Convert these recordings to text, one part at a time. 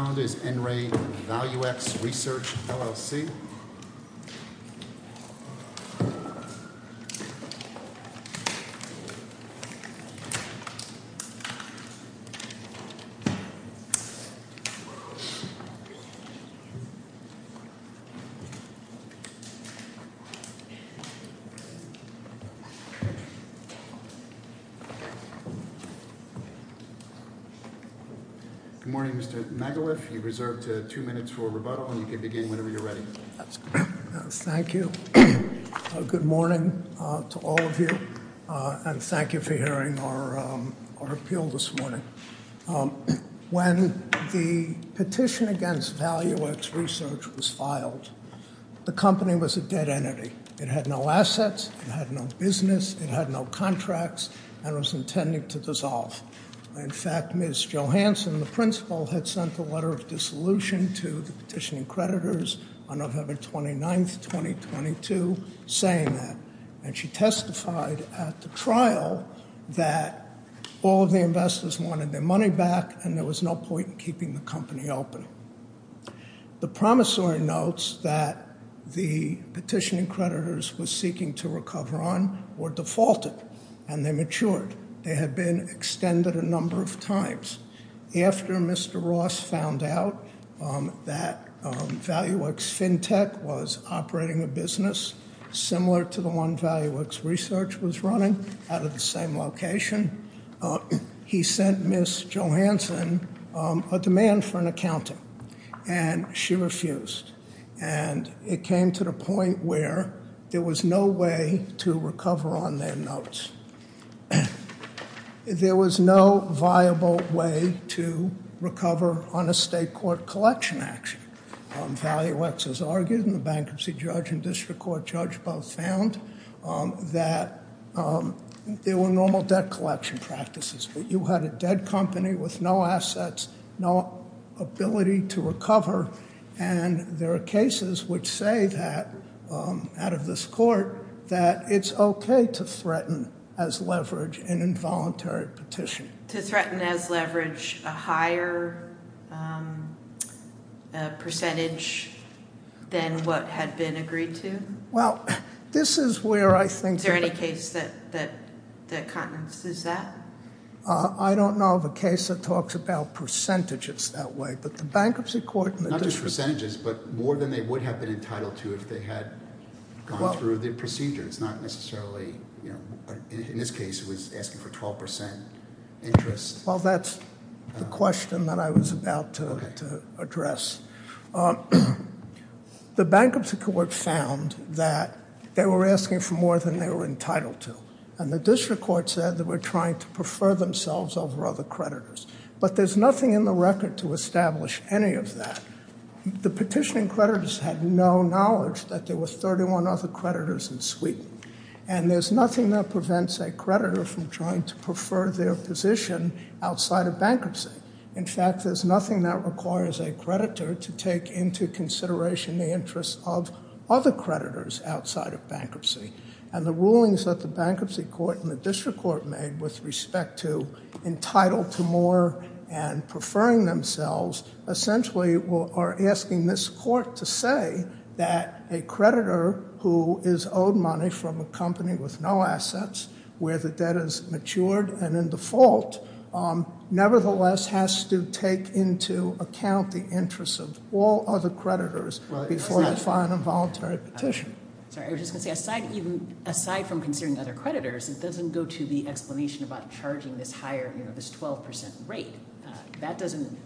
Good morning, Mr. McAuliffe, Mr. McAuliffe, Mr. McAuliffe, Mr. McAuliffe, Mr. McAuliffe, you're reserved two minutes for rebuttal, and you can begin whenever you're ready. Thank you, good morning to all of you, and thank you for hearing our appeal this morning. When the petition against Valuex Research was filed, the company was a dead entity. It had no assets, it had no business, it had no contracts, and was intending to dissolve. In fact, Ms. Johanson, the principal, had sent a letter of dissolution to the petitioning creditors on November 29th, 2022, saying that, and she testified at the trial that all of the investors wanted their money back, and there was no point in keeping the company open. The promissory notes that the petitioning creditors were seeking to recover on were defaulted, and they matured. They had been extended a number of times. After Mr. Ross found out that Valuex FinTech was operating a business similar to the one Valuex Research was running, out of the same location, he sent Ms. Johanson a demand for an accounting, and she refused. And it came to the point where there was no way to recover on their notes. There was no viable way to recover on a state court collection action. Valuex has argued, and the bankruptcy judge and district court judge both found that there were normal debt collection practices, but you had a dead company with no assets, no ability to recover, and there are cases which say that, out of this court, that it's okay to threaten as leverage an involuntary petition. To threaten as leverage a higher percentage than what had been agreed to? Well, this is where I think... Is there any case that countenances that? I don't know of a case that talks about percentages that way, but the bankruptcy court and the district... Not just percentages, but more than they would have been entitled to if they had gone through the procedure. It's not necessarily... In this case, it was asking for 12% interest. Well, that's the question that I was about to address. The bankruptcy court found that they were asking for more than they were entitled to, and the district court said that we're trying to prefer themselves over other creditors, but there's nothing in the record to establish any of that. The petitioning creditors had no knowledge that there were 31 other creditors in suite, and there's nothing that prevents a creditor from trying to prefer their position outside of bankruptcy. In fact, there's nothing that requires a creditor to take into consideration the interests of other creditors outside of bankruptcy, and the rulings that the bankruptcy court and the district court made with respect to entitled to more and preferring themselves essentially are asking this court to say that a creditor who is owed money from a company with no assets, where the debt is matured and in default, nevertheless has to take into account the interests of all other creditors before you find a voluntary petition. Sorry, I was just gonna say, aside from considering other creditors, it doesn't go to the explanation about charging this higher, you know, this 12% rate. That doesn't...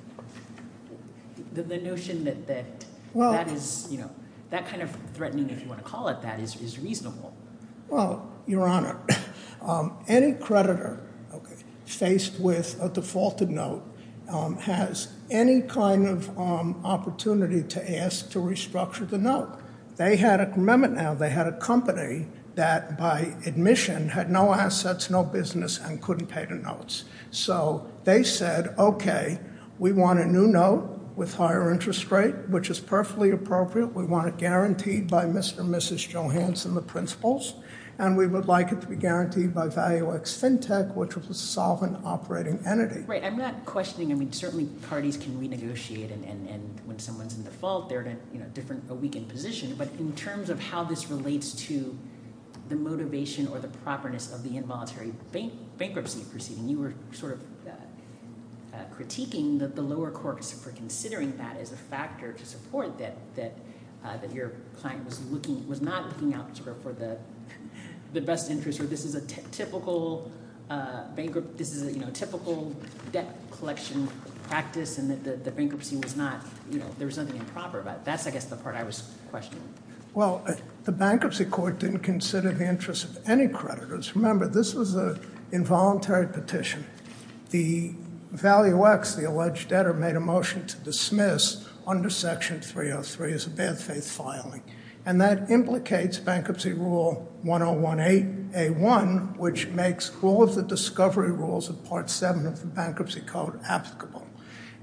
The notion that that is, you know, that kind of threatening, if you want to call it that, is reasonable. Well, Your Honor, any creditor faced with a defaulted note has any kind of opportunity to ask to restructure the note. They had a commitment now. They had a company that, by admission, had no assets, no business, and couldn't pay the notes. So they said, okay, we want a new note with higher interest rate, which is perfectly appropriate. We want it guaranteed by Mr. and Mrs. Johanson, the principals, and we would like it to be guaranteed by ValueX Fintech, which was a solvent operating entity. Right, I'm not questioning, I mean, certainly parties can renegotiate, and when someone's in default, they're in a different, a weakened position, but in terms of how this relates to the motivation or the properness of the involuntary bankruptcy proceeding, you were sort of critiquing that the lower courts for considering that as a factor to support that your client was looking, was not looking for the best interest, or this is a typical bankrupt, this is a typical debt collection practice, and that the bankruptcy was not, you know, there was nothing improper about it. That's, I guess, the part I was questioning. Well, the bankruptcy court didn't consider the interest of any creditors. Remember, this was a involuntary petition. The ValueX, the alleged debtor, made a motion to dismiss under section 303 as a bad faith filing, and that implicates bankruptcy rule 1018A1, which makes all of the discovery rules of part 7 of the bankruptcy code applicable,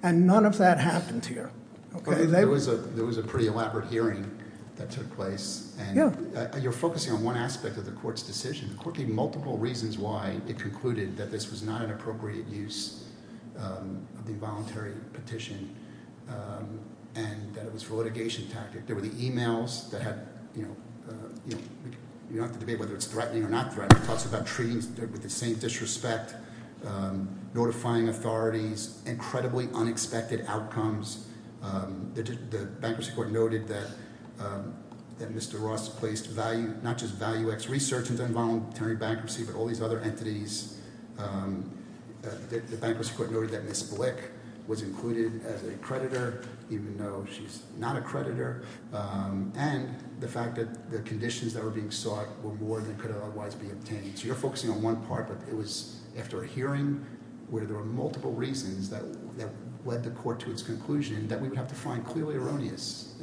and none of that happened here. Okay, there was a pretty elaborate hearing that took place, and you're focusing on one aspect of the court's decision, quickly multiple reasons why it concluded that this was not an appropriate use of the involuntary petition, and that it was for litigation tactic. There were the emails that had, you know, you don't have to debate whether it's threatening or not threatening, talks about treaties with the same disrespect, notifying authorities, incredibly unexpected outcomes. The bankruptcy court noted that Mr. Ross placed value, not just ValueX research into involuntary bankruptcy, but all these other entities. The bankruptcy court noted that Ms. Blick was included as a creditor, even though she's not a creditor, and the fact that the conditions that were being sought were more than could otherwise be obtained. So you're focusing on one part, but it was after a hearing where there were multiple reasons that led the court to its conclusion that we would have to find clearly erroneous.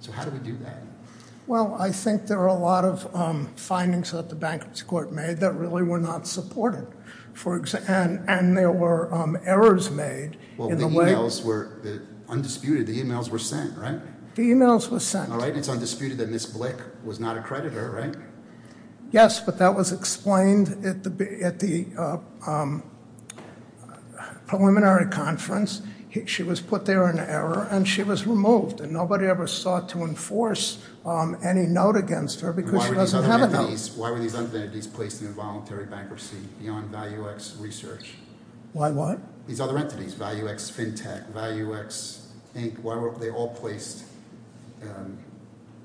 So how do we do that? Well, I think there are a lot of findings that the bankruptcy court made that really were not supported, for example, and there were errors made. Well, the emails were undisputed, the emails were sent, right? The emails were sent. All right, it's undisputed that Ms. Blick was not a creditor, right? Yes, but that was explained at the preliminary conference. She was put there in error, and she was removed, and nobody ever sought to enforce any note against her because she doesn't have a note. Why were these other entities placed in involuntary bankruptcy beyond ValueX research? Why what? These other entities, ValueX FinTech, ValueX Inc., why were they all placed, you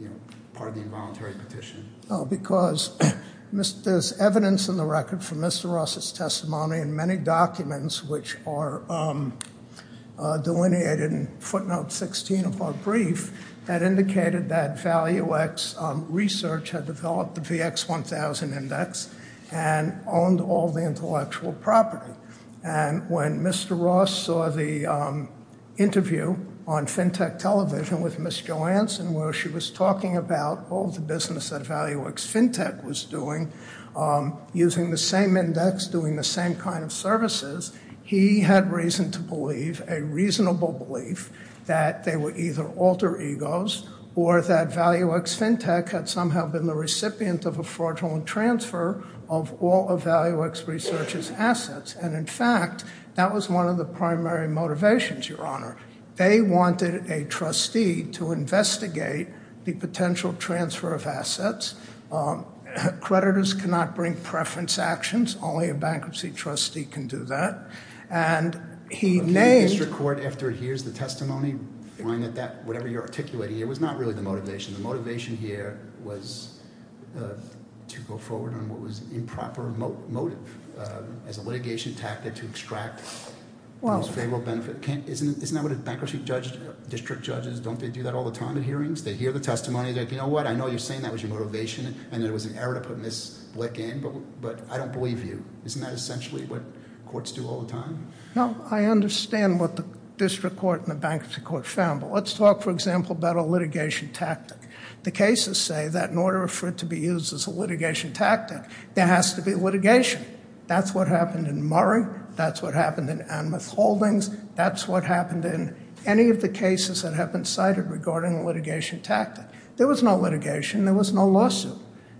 know, part of the involuntary petition? Oh, because there's evidence in the record from Mr. Ross's testimony and many documents which are delineated in the footnote 16 of our brief that indicated that ValueX research had developed the VX1000 index and owned all the intellectual property. And when Mr. Ross saw the interview on FinTech television with Ms. Jo Anson where she was talking about all the business that ValueX FinTech was doing, using the same index, doing the same kind of services, he had reason to believe, a reasonable belief, that they were either alter egos or that ValueX FinTech had somehow been the recipient of a fraudulent transfer of all of ValueX research's assets. And in fact, that was one of the primary motivations, Your Honor. They wanted a trustee to investigate the potential transfer of assets. Creditors cannot bring preference actions. Only a bankruptcy trustee can do that. And he named- The district court, after it hears the testimony, whine at that, whatever you're articulating, it was not really the motivation. The motivation here was to go forward on what was improper motive as a litigation tactic to extract most favorable benefit. Isn't that what a bankruptcy judge, district judges, don't they do that all the time at hearings? They hear the testimony, they're like, you know what, I know you're saying that was your motivation and there was an error to put Ms. Blick in, but I don't believe you. Isn't that essentially what courts do all the time? No, I understand what the district court and the bankruptcy court found, but let's talk, for example, about a litigation tactic. The cases say that in order for it to be used as a litigation tactic, there has to be litigation. That's what happened in Murray, that's what happened in Anmuth Holdings, that's what happened in any of the cases that have been cited regarding a litigation tactic. There was no litigation, there was no lawsuit.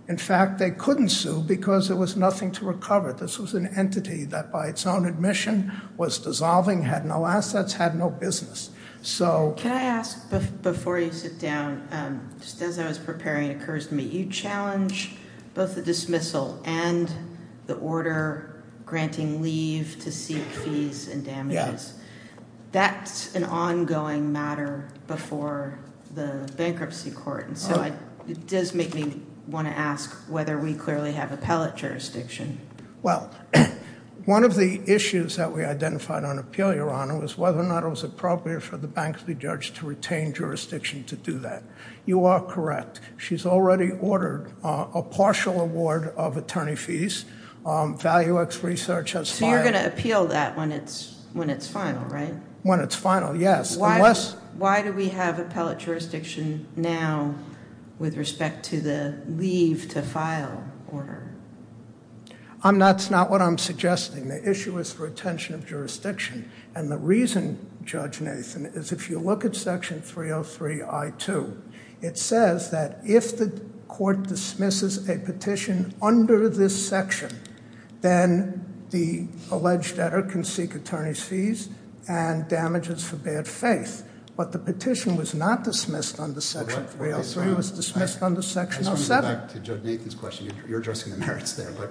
In fact, they couldn't sue because there was nothing to recover. This was an entity that by its own admission was dissolving, had no assets, had no business. Can I ask, before you sit down, just as I was preparing it occurs to me, you challenge both the dismissal and the order granting leave to seek fees and damages. That's an ongoing matter before the bankruptcy court, and so it does make me want to ask whether we clearly have appellate jurisdiction. Well, one of the issues that we identified on appeal, Your Honor, was whether or not it was appropriate for the bankruptcy judge to retain jurisdiction to do that. You are correct. She's already ordered a partial award of attorney fees. ValueX Research has five. You're going to appeal that when it's final, right? When it's final, yes. Why do we have appellate jurisdiction now with respect to the leave to file order? That's not what I'm suggesting. The issue is retention of jurisdiction, and the reason, Judge Nathan, is if you look at section 303 I2, it says that if the court dismisses a petition under this section, then the alleged editor can seek attorney's fees and damages for bad faith. But the petition was not dismissed under section 303, it was dismissed under section 07. I just want to go back to Judge Nathan's question. You're addressing the merits there, but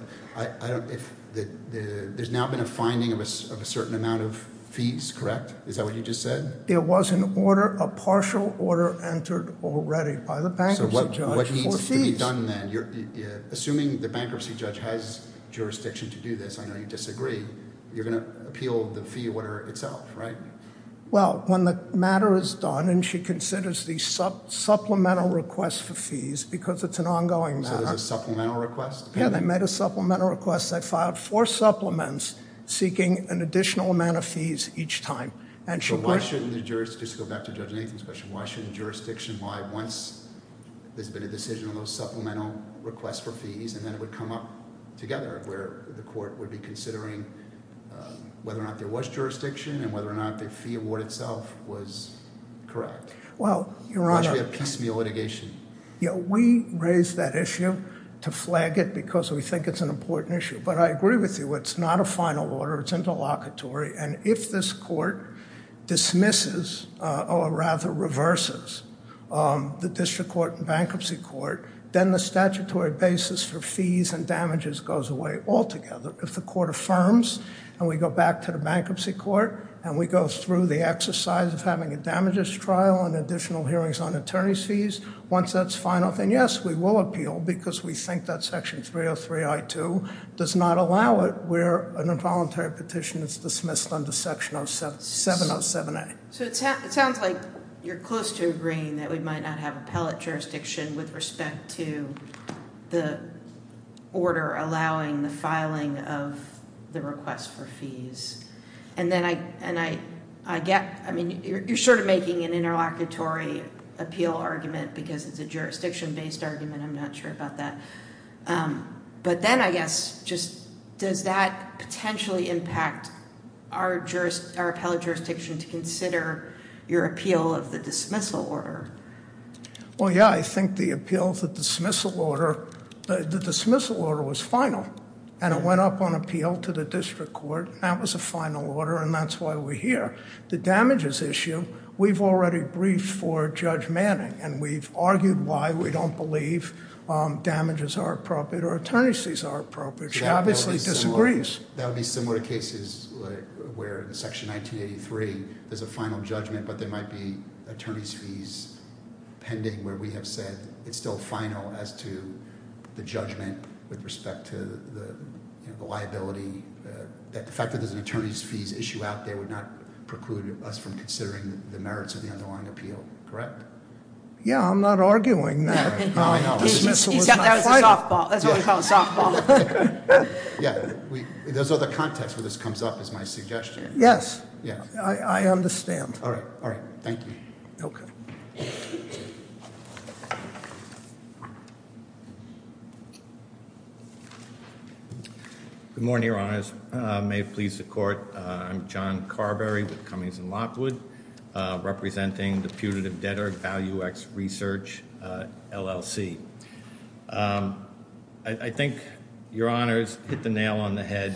there's now been a finding of a certain amount of fees, correct? Is that what you just said? There was an order, a partial order, entered already by the bankruptcy judge for fees. So what needs to be done then? Assuming the bankruptcy judge has jurisdiction to do this, I know you disagree, you're going to appeal the fee order itself, right? Well, when the matter is done, and she considers the supplemental request for fees, because it's an ongoing matter. So there's a supplemental request? Yeah, they made a supplemental request. They filed four supplements seeking an additional amount of fees each time. So why shouldn't the jurisdiction, just to go back to Judge Nathan's question, why shouldn't jurisdiction, why once there's been a decision on those supplemental requests for fees, and then it would come up together where the court would be considering whether or not there was jurisdiction and whether or not the fee award itself was correct? Well, your honor, we raised that issue to flag it because we think it's an important issue. But I agree with you, it's not a final order, it's interlocutory. And if this court dismisses, or rather reverses, the district court and bankruptcy court, then the statutory basis for fees and damages goes away altogether. If the court affirms, and we go back to the bankruptcy court, and we go through the exercise of having a damages trial and additional hearings on attorney's fees, once that's final, then yes, we will appeal, because we think that section 303 I-2 does not allow it, where an involuntary petition is dismissed under section 707A. So it sounds like you're close to agreeing that we might not have appellate jurisdiction with respect to the order allowing the filing of the request for fees. And then I get, I mean, you're sort of making an interlocutory appeal argument because it's a jurisdiction-based argument, I'm not sure about that. But then I guess, does that potentially impact our appellate jurisdiction to consider your appeal of the dismissal order? Well, yeah, I think the appeal of the dismissal order, the dismissal order was final. And it went up on appeal to the district court, and that was a final order, and that's why we're here. The damages issue, we've already briefed for Judge Manning, and we've argued why we don't believe damages are appropriate or attorney's fees are appropriate. She obviously disagrees. That would be similar cases where in section 1983, there's a final judgment, but there might be attorney's fees pending where we have said it's still final as to the judgment with respect to the liability. The fact that there's an attorney's fees issue out there would not preclude us from considering the merits of the underlying appeal, correct? Yeah, I'm not arguing that. Yeah, no, I know. That was a softball, that's what we call a softball. Yeah, there's other context where this comes up is my suggestion. Yes, I understand. All right, all right, thank you. Okay. Good morning, Your Honors. May it please the court, I'm John Carberry with Cummings and Lockwood, representing the Putative Debtor Value X Research LLC. I think Your Honors hit the nail on the head.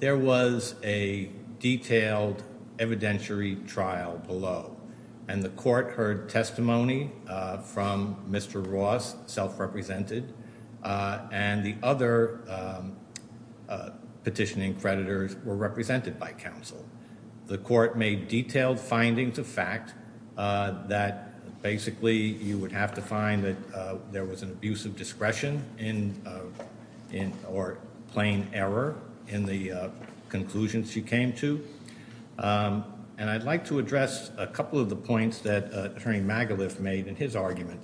There was a detailed evidentiary trial below, and the court heard testimony from Mr. Ross, self-represented, and the other petitioning creditors were represented by counsel. The court made detailed findings of fact that basically you would have to find that there was an abuse of discretion or plain error in the conclusions you came to. And I'd like to address a couple of the points that Attorney Magaluf made in his argument.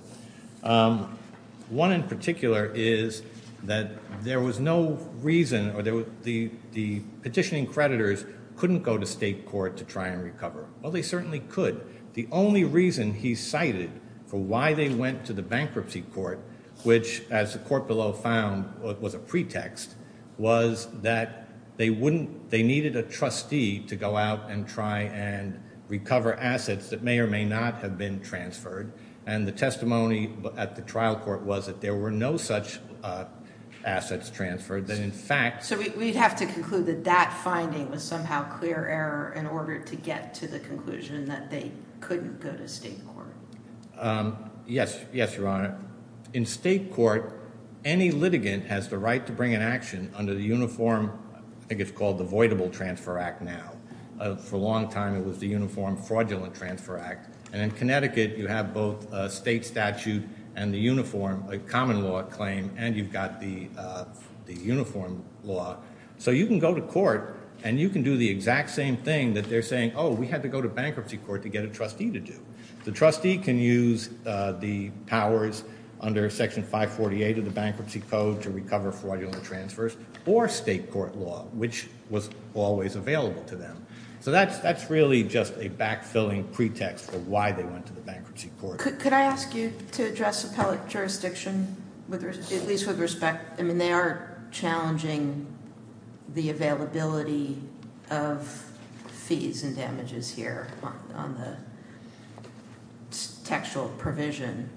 One in particular is that there was no reason or the petitioning creditors couldn't go to state court to try and recover. Well, they certainly could. The only reason he cited for why they went to the bankruptcy court, which as the court below found was a pretext, was that they needed a trustee to go out and try and recover assets that may or may not have been transferred. And the testimony at the trial court was that there were no such assets transferred, that in fact- So we'd have to conclude that that finding was somehow clear error in order to get to the conclusion that they couldn't go to state court. Yes, Your Honor. In state court, any litigant has the right to bring an action under the uniform, I think it's called the Voidable Transfer Act now. For a long time, it was the Uniform Fraudulent Transfer Act. And in Connecticut, you have both a state statute and the uniform, a common law claim, and you've got the uniform law. So you can go to court and you can do the exact same thing that they're saying, oh, we had to go to bankruptcy court to get a trustee to do. The trustee can use the powers under Section 548 of the Bankruptcy Code to recover fraudulent transfers or state court law, which was always available to them. So that's really just a backfilling pretext for why they went to the bankruptcy court. Could I ask you to address appellate jurisdiction, at least with respect? I mean, they are challenging the availability of fees and damages here on the textual provision.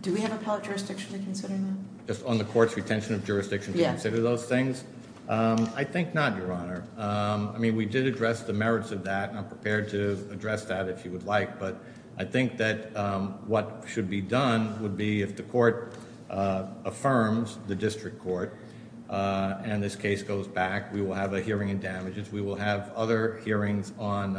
Do we have appellate jurisdiction to consider that? Just on the court's retention of jurisdiction to consider those things? I think not, Your Honor. I mean, we did address the merits of that, and I'm prepared to address that if you would like. But I think that what should be done would be if the court affirms, the district court, and this case goes back, we will have a hearing in damages. We will have other hearings on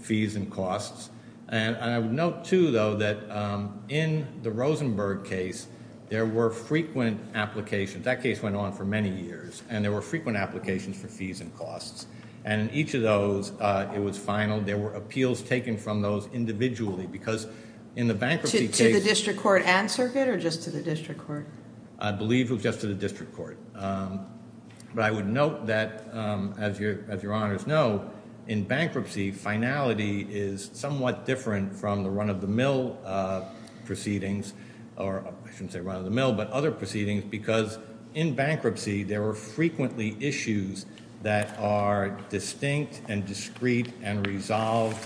fees and costs. And I would note, too, though, that in the Rosenberg case, there were frequent applications. That case went on for many years. And there were frequent applications for fees and costs. And in each of those, it was final. There were appeals taken from those individually, because in the bankruptcy case. To the district court and circuit, or just to the district court? I believe it was just to the district court. But I would note that, as Your Honors know, in bankruptcy, finality is somewhat different from the run-of-the-mill proceedings, or I shouldn't say run-of-the-mill, but other proceedings, because in bankruptcy, there were frequently issues that are distinct and discreet and resolved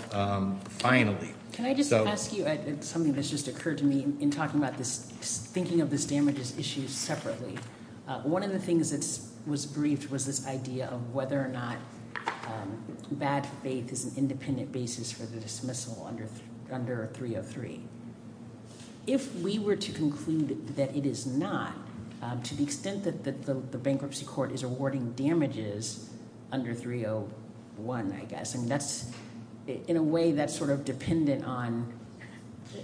finally. Can I just ask you something that's just occurred to me in talking about this, thinking of this damages issue separately? One of the things that was briefed was this idea of whether or not bad faith is an independent basis for the dismissal under 303. If we were to conclude that it is not, to the extent that the bankruptcy court is awarding damages under 301, I guess, and that's, in a way, that's sort of dependent on,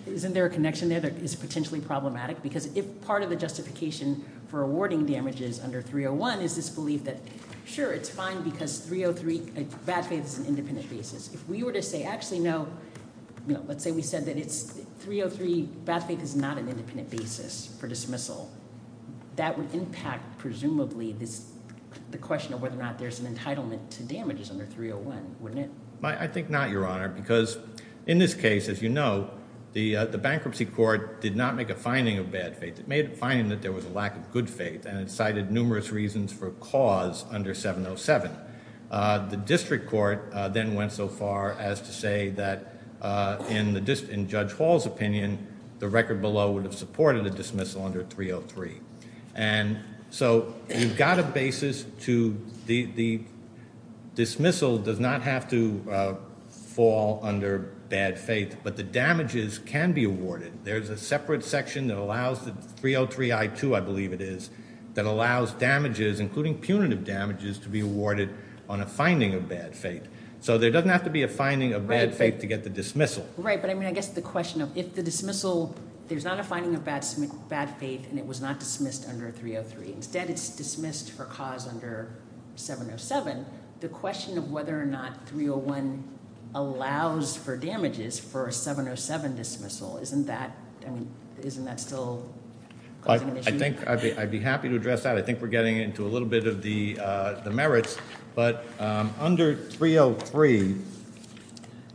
isn't there a connection there that is potentially problematic? Because if part of the justification for awarding damages under 301 is this belief that, sure, it's fine, because 303, bad faith is an independent basis. If we were to say, actually, no, let's say we said that 303, bad faith is not an independent basis for dismissal, that would impact, presumably, the question of whether or not there's an entitlement to damages under 301, wouldn't it? I think not, Your Honor, because in this case, as you know, the bankruptcy court did not make a finding of bad faith. It made a finding that there was a lack of good faith, and it cited numerous reasons for cause under 707. The district court then went so far as to say that, in Judge Hall's opinion, the record below would have supported a dismissal under 303. And so, you've got a basis to, the dismissal does not have to fall under bad faith, but the damages can be awarded. There's a separate section that allows, 303 I-2, I believe it is, that allows damages, including punitive damages, to be awarded on a finding of bad faith. So, there doesn't have to be a finding of bad faith to get the dismissal. Right, but I mean, I guess the question of, if the dismissal, there's not a finding of bad faith, and it was not dismissed under 303. Instead, it's dismissed for cause under 707. The question of whether or not 301 allows for damages for a 707 dismissal, isn't that, I mean, isn't that still causing an issue? I think, I'd be happy to address that. I think we're getting into a little bit of the merits. But under 303,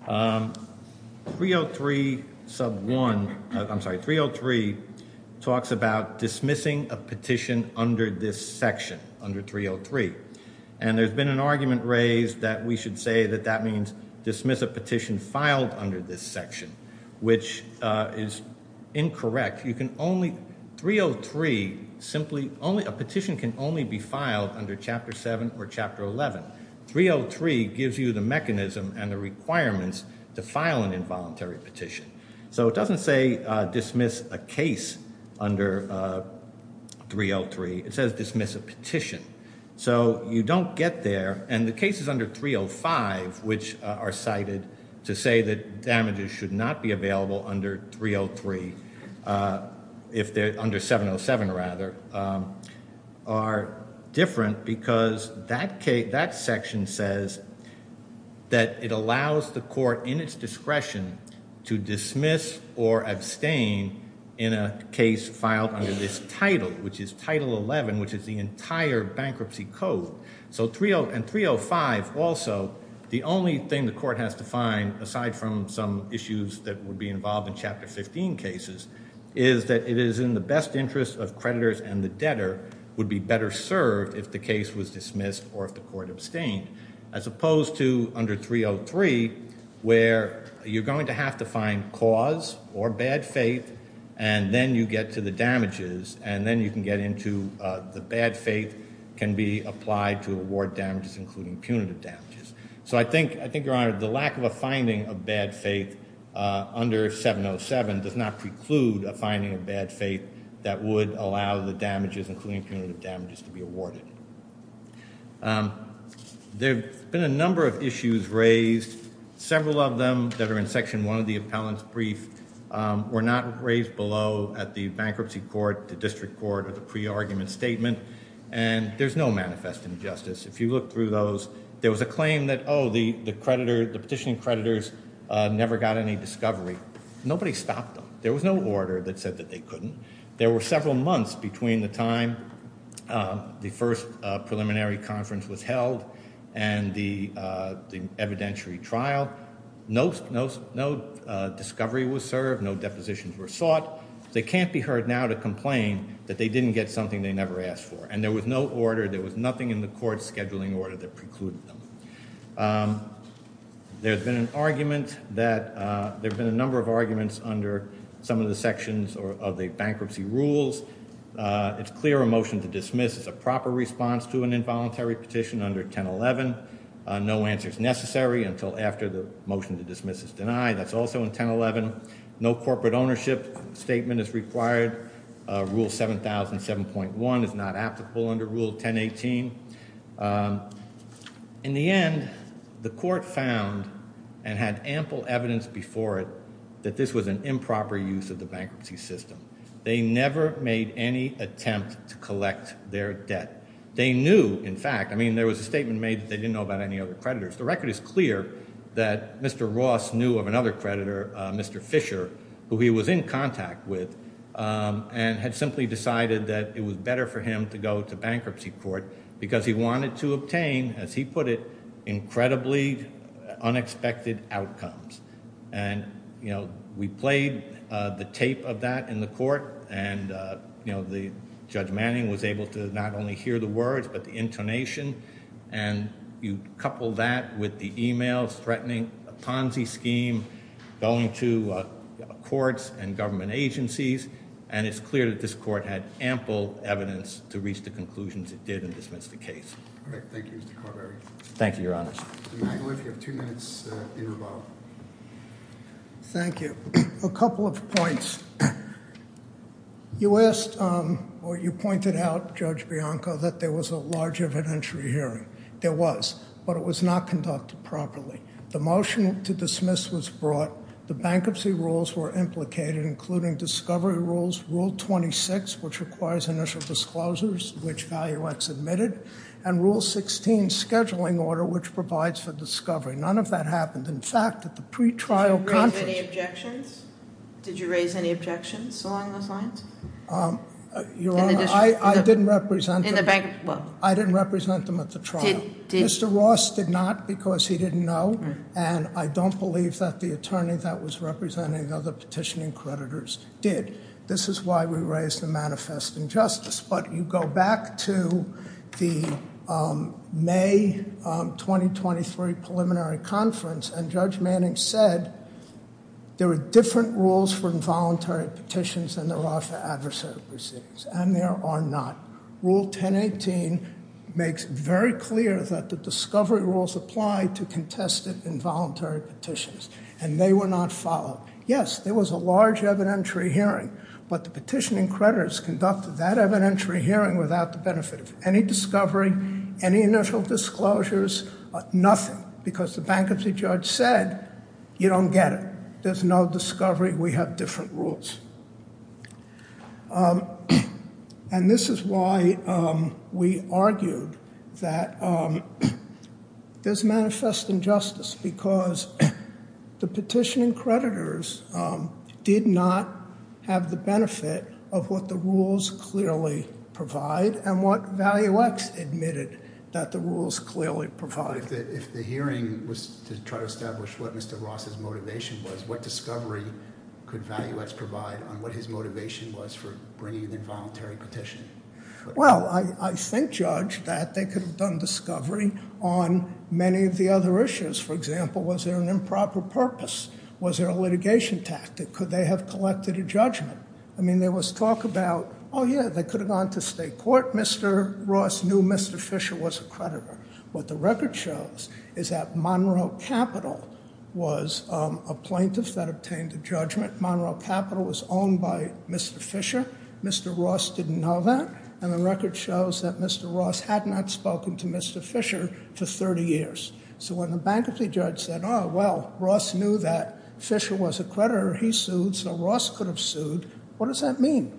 303 sub 1, I'm sorry, 303 talks about dismissing a petition under this section, under 303. And there's been an argument raised that we should say that that means dismiss a petition filed under this section, which is incorrect. You can only, 303 simply, a petition can only be filed under Chapter 7 or Chapter 11. 303 gives you the mechanism and the requirements to file an involuntary petition. So, it doesn't say dismiss a case under 303. It says dismiss a petition. So, you don't get there. And the case is under 305, which are cited to say that damages should not be available under 303, if they're under 707, rather, are different because that section says that it allows the court in its discretion to dismiss or abstain in a case filed under this title, which is Title 11, which is the entire bankruptcy code. So, 305 also, the only thing the court has to find, aside from some issues that would be involved in Chapter 15 cases, is that it is in the best interest of creditors and the debtor would be better served if the case was dismissed or if the court abstained, as opposed to under 303, where you're going to have to find cause or bad faith, and then you get to the damages. And then you can get into the bad faith can be applied to award damages, including punitive damages. So, I think, Your Honor, the lack of a finding of bad faith under 707 does not preclude a finding of bad faith that would allow the damages, including punitive damages, to be awarded. There have been a number of issues raised. Several of them that are in Section 1 of the appellant's brief were not raised below at the bankruptcy court, the district court, or the pre-argument statement. And there's no manifest injustice. If you look through those, there was a claim that, oh, the petitioning creditors never got any discovery. Nobody stopped them. There was no order that said that they couldn't. There were several months between the time the first preliminary conference was held and the evidentiary trial. No discovery was served. No depositions were sought. They can't be heard now to complain that they didn't get something they never asked for. And there was no order. There was nothing in the court's scheduling order that precluded them. There's been an argument that there have been a number of arguments under some of the sections of the bankruptcy rules. It's clear a motion to dismiss is a proper response to an involuntary petition under 1011. No answer is necessary until after the motion to dismiss is denied. That's also in 1011. No corporate ownership statement is required. Rule 7,007.1 is not applicable under Rule 1018. In the end, the court found and had ample evidence before it that this was an improper use of the bankruptcy system. They never made any attempt to collect their debt. They knew, in fact. I mean, there was a statement made that they didn't know about any other creditors. The record is clear that Mr. Ross knew of another creditor, Mr. Fisher, who he was in contact with and had simply decided that it was better for him to go to bankruptcy court because he wanted to obtain, as he put it, incredibly unexpected outcomes. And, you know, we played the tape of that in the court. And, you know, Judge Manning was able to not only hear the words but the intonation. And you couple that with the emails threatening a Ponzi scheme, going to courts and government agencies. And it's clear that this court had ample evidence to reach the conclusions it did and dismiss the case. All right. Thank you, Mr. Carberry. Thank you, Your Honor. Mr. Mangliff, you have two minutes in rebuttal. Thank you. A couple of points. You asked, or you pointed out, Judge Bianco, that there was a large evidentiary hearing. There was. But it was not conducted properly. The motion to dismiss was brought. The bankruptcy rules were implicated, including discovery rules, Rule 26, which requires initial disclosures, which ValueX admitted. And Rule 16, scheduling order, which provides for discovery. None of that happened. In fact, at the pre-trial conference- Did you raise any objections? Did you raise any objections along those lines? Your Honor, I didn't represent them- In the bankruptcy- I didn't represent them at the trial. Mr. Ross did not because he didn't know. And I don't believe that the attorney that was representing the other petitioning creditors did. This is why we raised the manifest injustice. But you go back to the May 2023 preliminary conference, and Judge Manning said there were different rules for involuntary petitions than there are for adversarial proceedings. And there are not. Rule 1018 makes very clear that the discovery rules apply to contested involuntary petitions. And they were not followed. Yes, there was a large evidentiary hearing. But the petitioning creditors conducted that evidentiary hearing without the benefit of any discovery, any initial disclosures, nothing. Because the bankruptcy judge said, you don't get it. There's no discovery. We have different rules. And this is why we argued that there's manifest injustice because the petitioning creditors did not have the benefit of what the rules clearly provide and what ValueX admitted that the rules clearly provide. If the hearing was to try to establish what Mr. Ross' motivation was, what discovery could ValueX provide on what his motivation was for bringing an involuntary petition? Well, I think, Judge, that they could have done discovery on many of the other issues. For example, was there an improper purpose? Was there a litigation tactic? Could they have collected a judgment? I mean, there was talk about, oh, yeah, they could have gone to state court. Mr. Ross knew Mr. Fisher was a creditor. What the record shows is that Monroe Capital was a plaintiff that obtained a judgment. Monroe Capital was owned by Mr. Fisher. Mr. Ross didn't know that. And the record shows that Mr. Ross had not spoken to Mr. Fisher for 30 years. So when the bankruptcy judge said, oh, well, Ross knew that Fisher was a creditor. He sued. So Ross could have sued. What does that mean?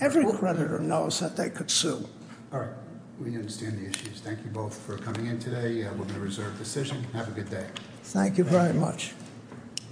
Every creditor knows that they could sue. All right. We understand the issues. Thank you both for coming in today. We're going to reserve the session. Have a good day. Thank you very much.